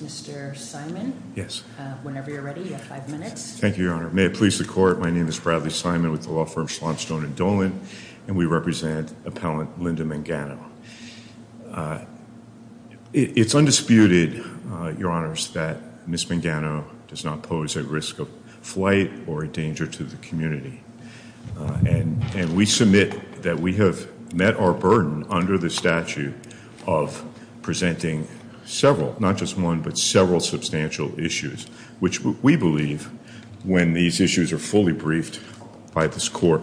Mr. Simon, whenever you're ready, you have five minutes. Thank you, Your Honor. May it please the Court, my name is Bradley Simon with the law firm Schlonstone & Dolan and we represent appellant Linda Mangano. It's undisputed, Your Honors, that Ms. Mangano does not pose a risk of flight or a danger to the community. And we submit that we have met our burden under the statute of presenting several, not just one, but several substantial issues, which we believe when these issues are fully briefed by this Court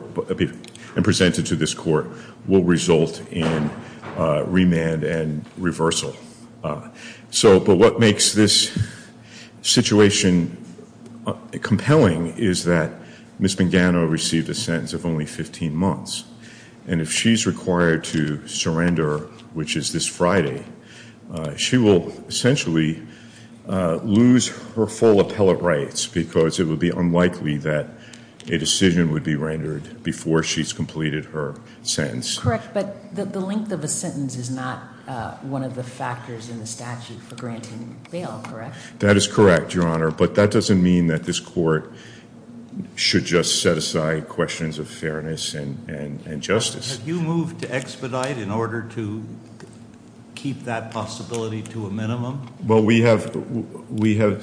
and presented to this Court will result in remand and reversal. So but what makes this situation compelling is that Ms. Mangano received a sentence of only 15 months. And if she's required to surrender, which is this Friday, she will essentially lose her full appellate rights because it would be unlikely that a decision would be rendered before she's completed her sentence. Correct. But the length of a sentence is not one of the factors in the statute for granting bail, correct? That is correct, Your Honor. But that doesn't mean that this Court should just set aside questions of fairness and justice. Well, we have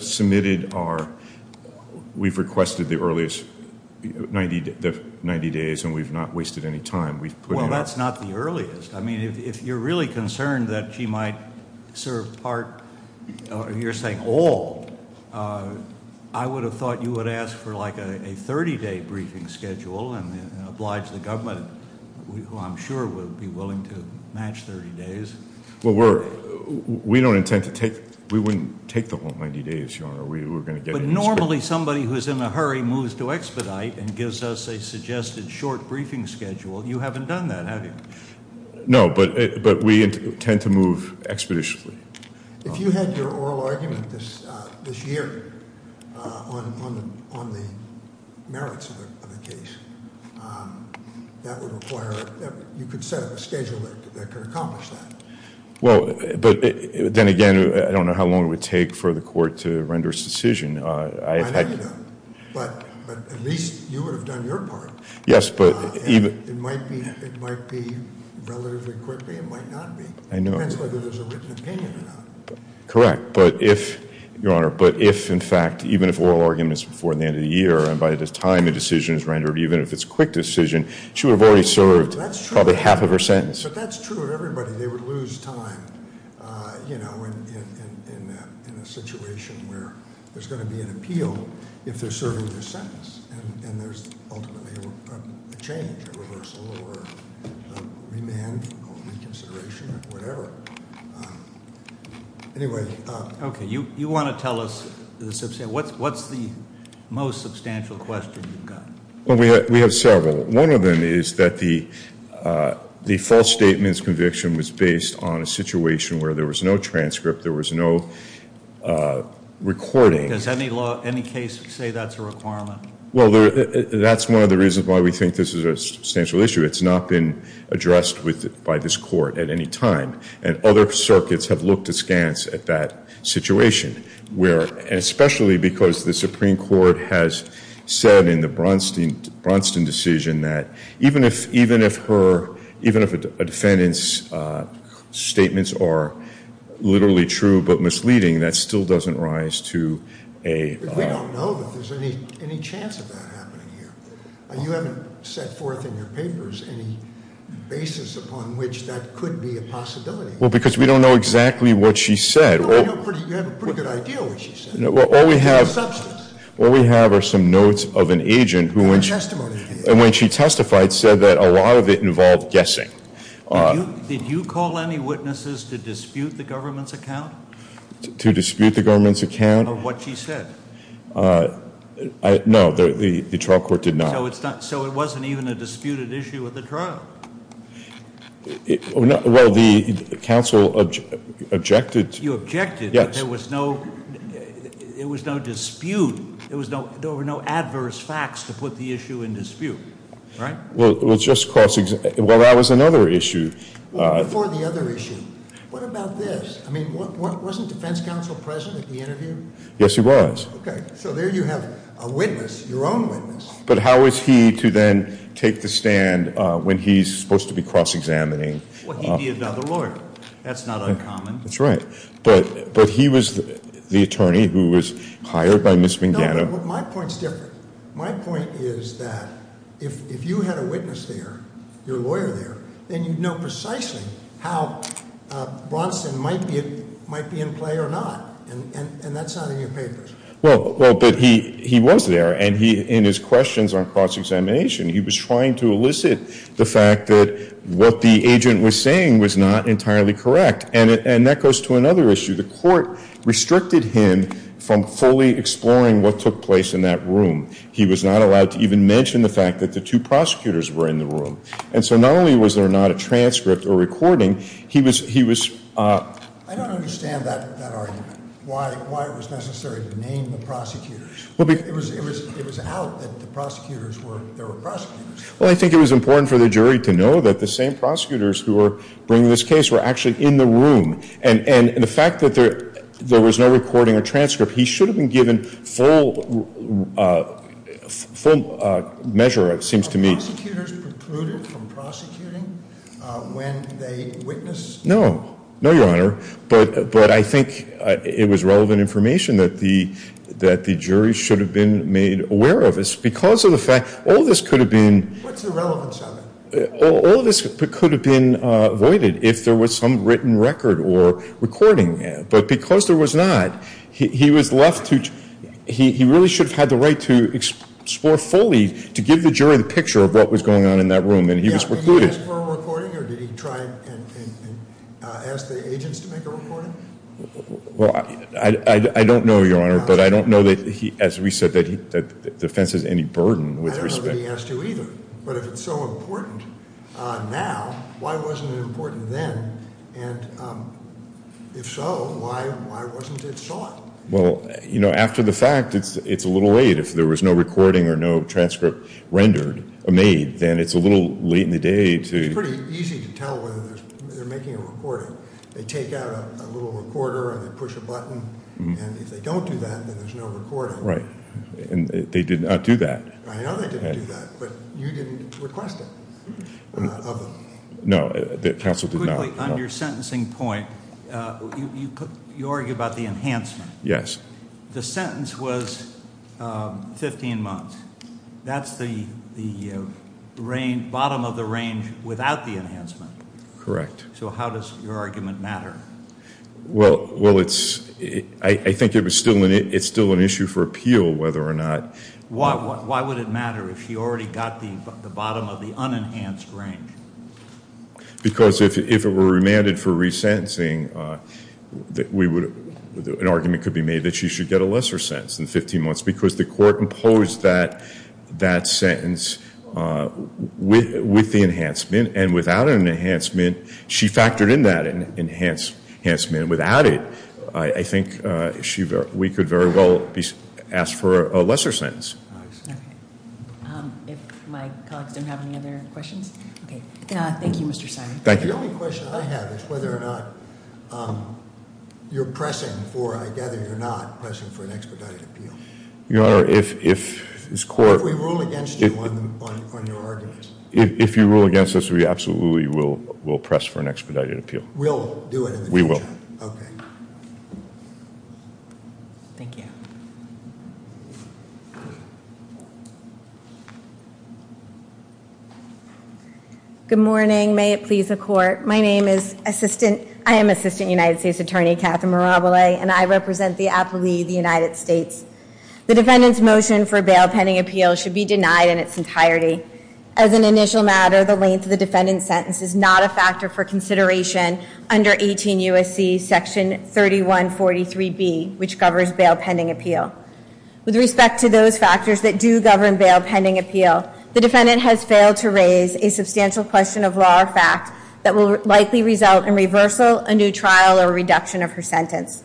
submitted our, we've requested the earliest, 90 days, and we've not wasted any time. Well, that's not the earliest. I mean, if you're really concerned that she might serve part, you're saying all, I would have thought you would ask for like a 30-day briefing schedule and oblige the government, who I'm sure would be willing to match 30 days. Well, we're, we don't intend to take, we wouldn't take the whole 90 days, Your Honor, we were going to get- But normally somebody who's in a hurry moves to expedite and gives us a suggested short briefing schedule. You haven't done that, have you? No, but we intend to move expeditiously. If you had your oral argument this year on the merits of the case, that would require, you could set a schedule that could accomplish that. Well, but then again, I don't know how long it would take for the Court to render its decision. I know you don't. But at least you would have done your part. Yes, but even- It might be relatively quickly, it might not be. I know. Depends whether there's a written opinion or not. Correct. But if, Your Honor, but if, in fact, even if oral arguments before the end of the year and by the time a decision is rendered, even if it's a quick decision, she would have already served probably half of her sentence. But that's true of everybody. They would lose time, you know, in a situation where there's going to be an appeal if they're serving their sentence. And there's ultimately a change, a reversal, or a remand, or reconsideration, or whatever. Anyway- Okay, you want to tell us, what's the most substantial question you've got? Well, we have several. One of them is that the false statement's conviction was based on a situation where there was no transcript, there was no recording. Does any law, any case say that's a requirement? Well, that's one of the reasons why we think this is a substantial issue. It's not been addressed by this Court at any time. And other circuits have looked askance at that situation. Especially because the Supreme Court has said in the Bronstein decision that even if a defendant's statements are literally true but misleading, that still doesn't rise to a- We don't know that there's any chance of that happening here. You haven't set forth in your papers any basis upon which that could be a possibility. Well, because we don't know exactly what she said. You have a pretty good idea of what she said. It's a substance. What we have are some notes of an agent who, when she testified, said that a lot of it involved guessing. Did you call any witnesses to dispute the government's account? To dispute the government's account? Of what she said? No, the trial court did not. So it wasn't even a disputed issue at the trial? Well, the counsel objected- You objected that there was no dispute. There were no adverse facts to put the issue in dispute, right? Well, that was another issue. Before the other issue, what about this? Wasn't defense counsel present at the interview? Yes, he was. Okay, so there you have a witness, your own witness. But how is he to then take the stand when he's supposed to be cross-examining? Well, he'd be another lawyer. That's not uncommon. That's right. But he was the attorney who was hired by Ms. Mangano. No, but my point's different. My point is that if you had a witness there, your lawyer there, then you'd know precisely how Bronson might be in play or not. And that's not in your papers. Well, but he was there, and in his questions on cross-examination, he was trying to elicit the fact that what the agent was saying was not entirely correct. And that goes to another issue. The court restricted him from fully exploring what took place in that room. He was not allowed to even mention the fact that the two prosecutors were in the room. And so not only was there not a transcript or recording, he was – I don't understand that argument, why it was necessary to name the prosecutors. Well, I think it was important for the jury to know that the same prosecutors who were bringing this case were actually in the room. And the fact that there was no recording or transcript, he should have been given full measure, it seems to me. Were prosecutors precluded from prosecuting when they witnessed? No. No, Your Honor. But I think it was relevant information that the jury should have been made aware of. Because of the fact – all of this could have been – What's the relevance of it? All of this could have been avoided if there was some written record or recording. But because there was not, he was left to – he really should have had the right to explore fully, to give the jury the picture of what was going on in that room, and he was precluded. Yeah. Did he ask for a recording, or did he try and ask the agents to make a recording? Well, I don't know, Your Honor. But I don't know that, as we said, that the defense has any burden with respect – I don't know that he has to either. But if it's so important now, why wasn't it important then? And if so, why wasn't it sought? Well, you know, after the fact, it's a little late. If there was no recording or no transcript rendered – made, then it's a little late in the day to – It's pretty easy to tell whether they're making a recording. They take out a little recorder and they push a button. And if they don't do that, then there's no recording. Right. And they did not do that. I know they didn't do that, but you didn't request it of them. No, counsel did not. Quickly, on your sentencing point, you argue about the enhancement. Yes. The sentence was 15 months. That's the bottom of the range without the enhancement. Correct. So how does your argument matter? Well, I think it's still an issue for appeal whether or not – Why would it matter if she already got the bottom of the unenhanced range? Because if it were remanded for resentencing, an argument could be made that she should get a lesser sentence than 15 months because the court imposed that sentence with the enhancement. And without an enhancement, she factored in that enhancement. Without it, I think we could very well ask for a lesser sentence. Okay. If my colleagues don't have any other questions? Okay. Thank you, Mr. Simon. Thank you. The only question I have is whether or not you're pressing for – I gather you're not pressing for an expedited appeal. Your Honor, if this court – If we rule against you on your argument. If you rule against us, we absolutely will press for an expedited appeal. We'll do it in the chat. We will. Okay. Thank you. Good morning. May it please the court. My name is Assistant – I am Assistant United States Attorney Catherine Mirabile, and I represent the aptly the United States. The defendant's motion for a bail pending appeal should be denied in its entirety. As an initial matter, the length of the defendant's sentence is not a factor for consideration under 18 U.S.C. Section 3143B, which covers bail pending appeal. With respect to those factors that do govern bail pending appeal, the defendant has failed to raise a substantial question of law or fact that will likely result in reversal, a new trial, or a reduction of her sentence.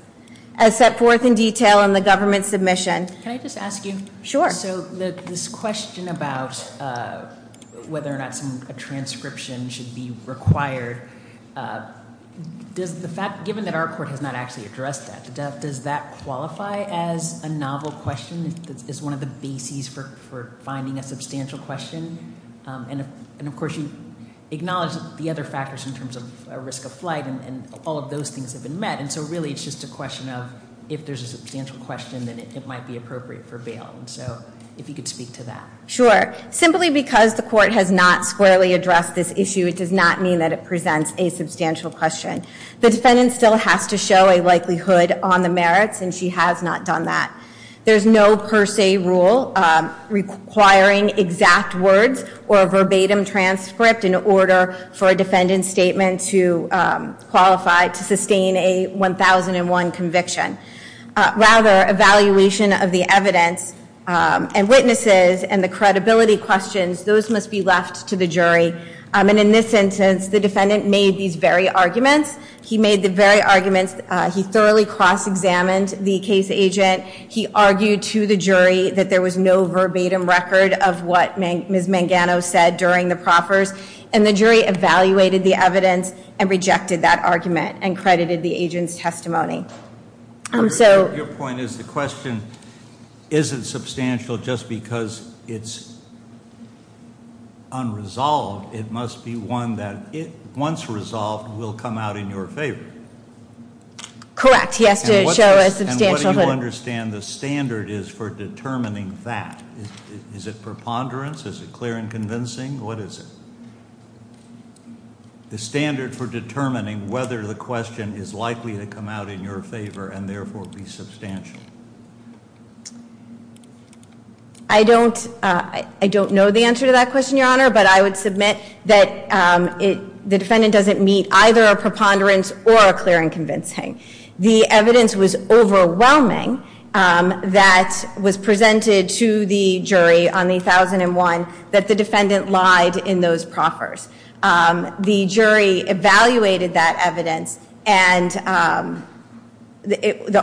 As set forth in detail in the government submission – Can I just ask you? Sure. So this question about whether or not a transcription should be required, given that our court has not actually addressed that, does that qualify as a novel question? Is one of the bases for finding a substantial question? And, of course, you acknowledge the other factors in terms of risk of flight, and all of those things have been met. And so really it's just a question of if there's a substantial question, then it might be appropriate for bail. So if you could speak to that. Sure. Simply because the court has not squarely addressed this issue, it does not mean that it presents a substantial question. The defendant still has to show a likelihood on the merits, and she has not done that. There's no per se rule requiring exact words or a verbatim transcript in order for a defendant's statement to qualify to sustain a 1001 conviction. Rather, evaluation of the evidence and witnesses and the credibility questions, those must be left to the jury. And in this instance, the defendant made these very arguments. He made the very arguments. He thoroughly cross-examined the case agent. He argued to the jury that there was no verbatim record of what Ms. Mangano said during the proffers. And the jury evaluated the evidence and rejected that argument and credited the agent's testimony. So- Your point is the question isn't substantial just because it's unresolved. It must be one that, once resolved, will come out in your favor. Correct. He has to show a substantial- And what do you understand the standard is for determining that? Is it preponderance? Is it clear and convincing? What is it? The standard for determining whether the question is likely to come out in your favor and therefore be substantial. I don't know the answer to that question, Your Honor. But I would submit that the defendant doesn't meet either a preponderance or a clear and convincing. The evidence was overwhelming that was presented to the jury on the 1001 that the defendant lied in those proffers. The jury evaluated that evidence, the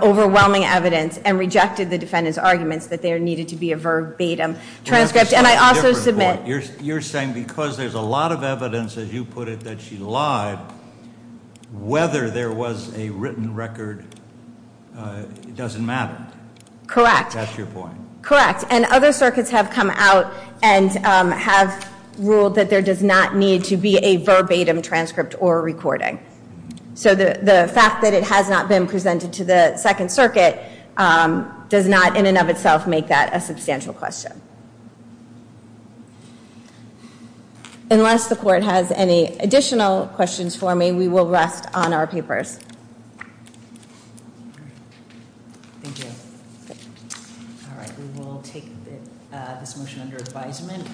overwhelming evidence, and rejected the defendant's arguments that there needed to be a verbatim transcript. And I also submit- It doesn't matter. Correct. That's your point. Correct. And other circuits have come out and have ruled that there does not need to be a verbatim transcript or recording. So the fact that it has not been presented to the Second Circuit does not, in and of itself, make that a substantial question. Unless the Court has any additional questions for me, we will rest on our papers. Thank you. All right. We will take this motion under advisement.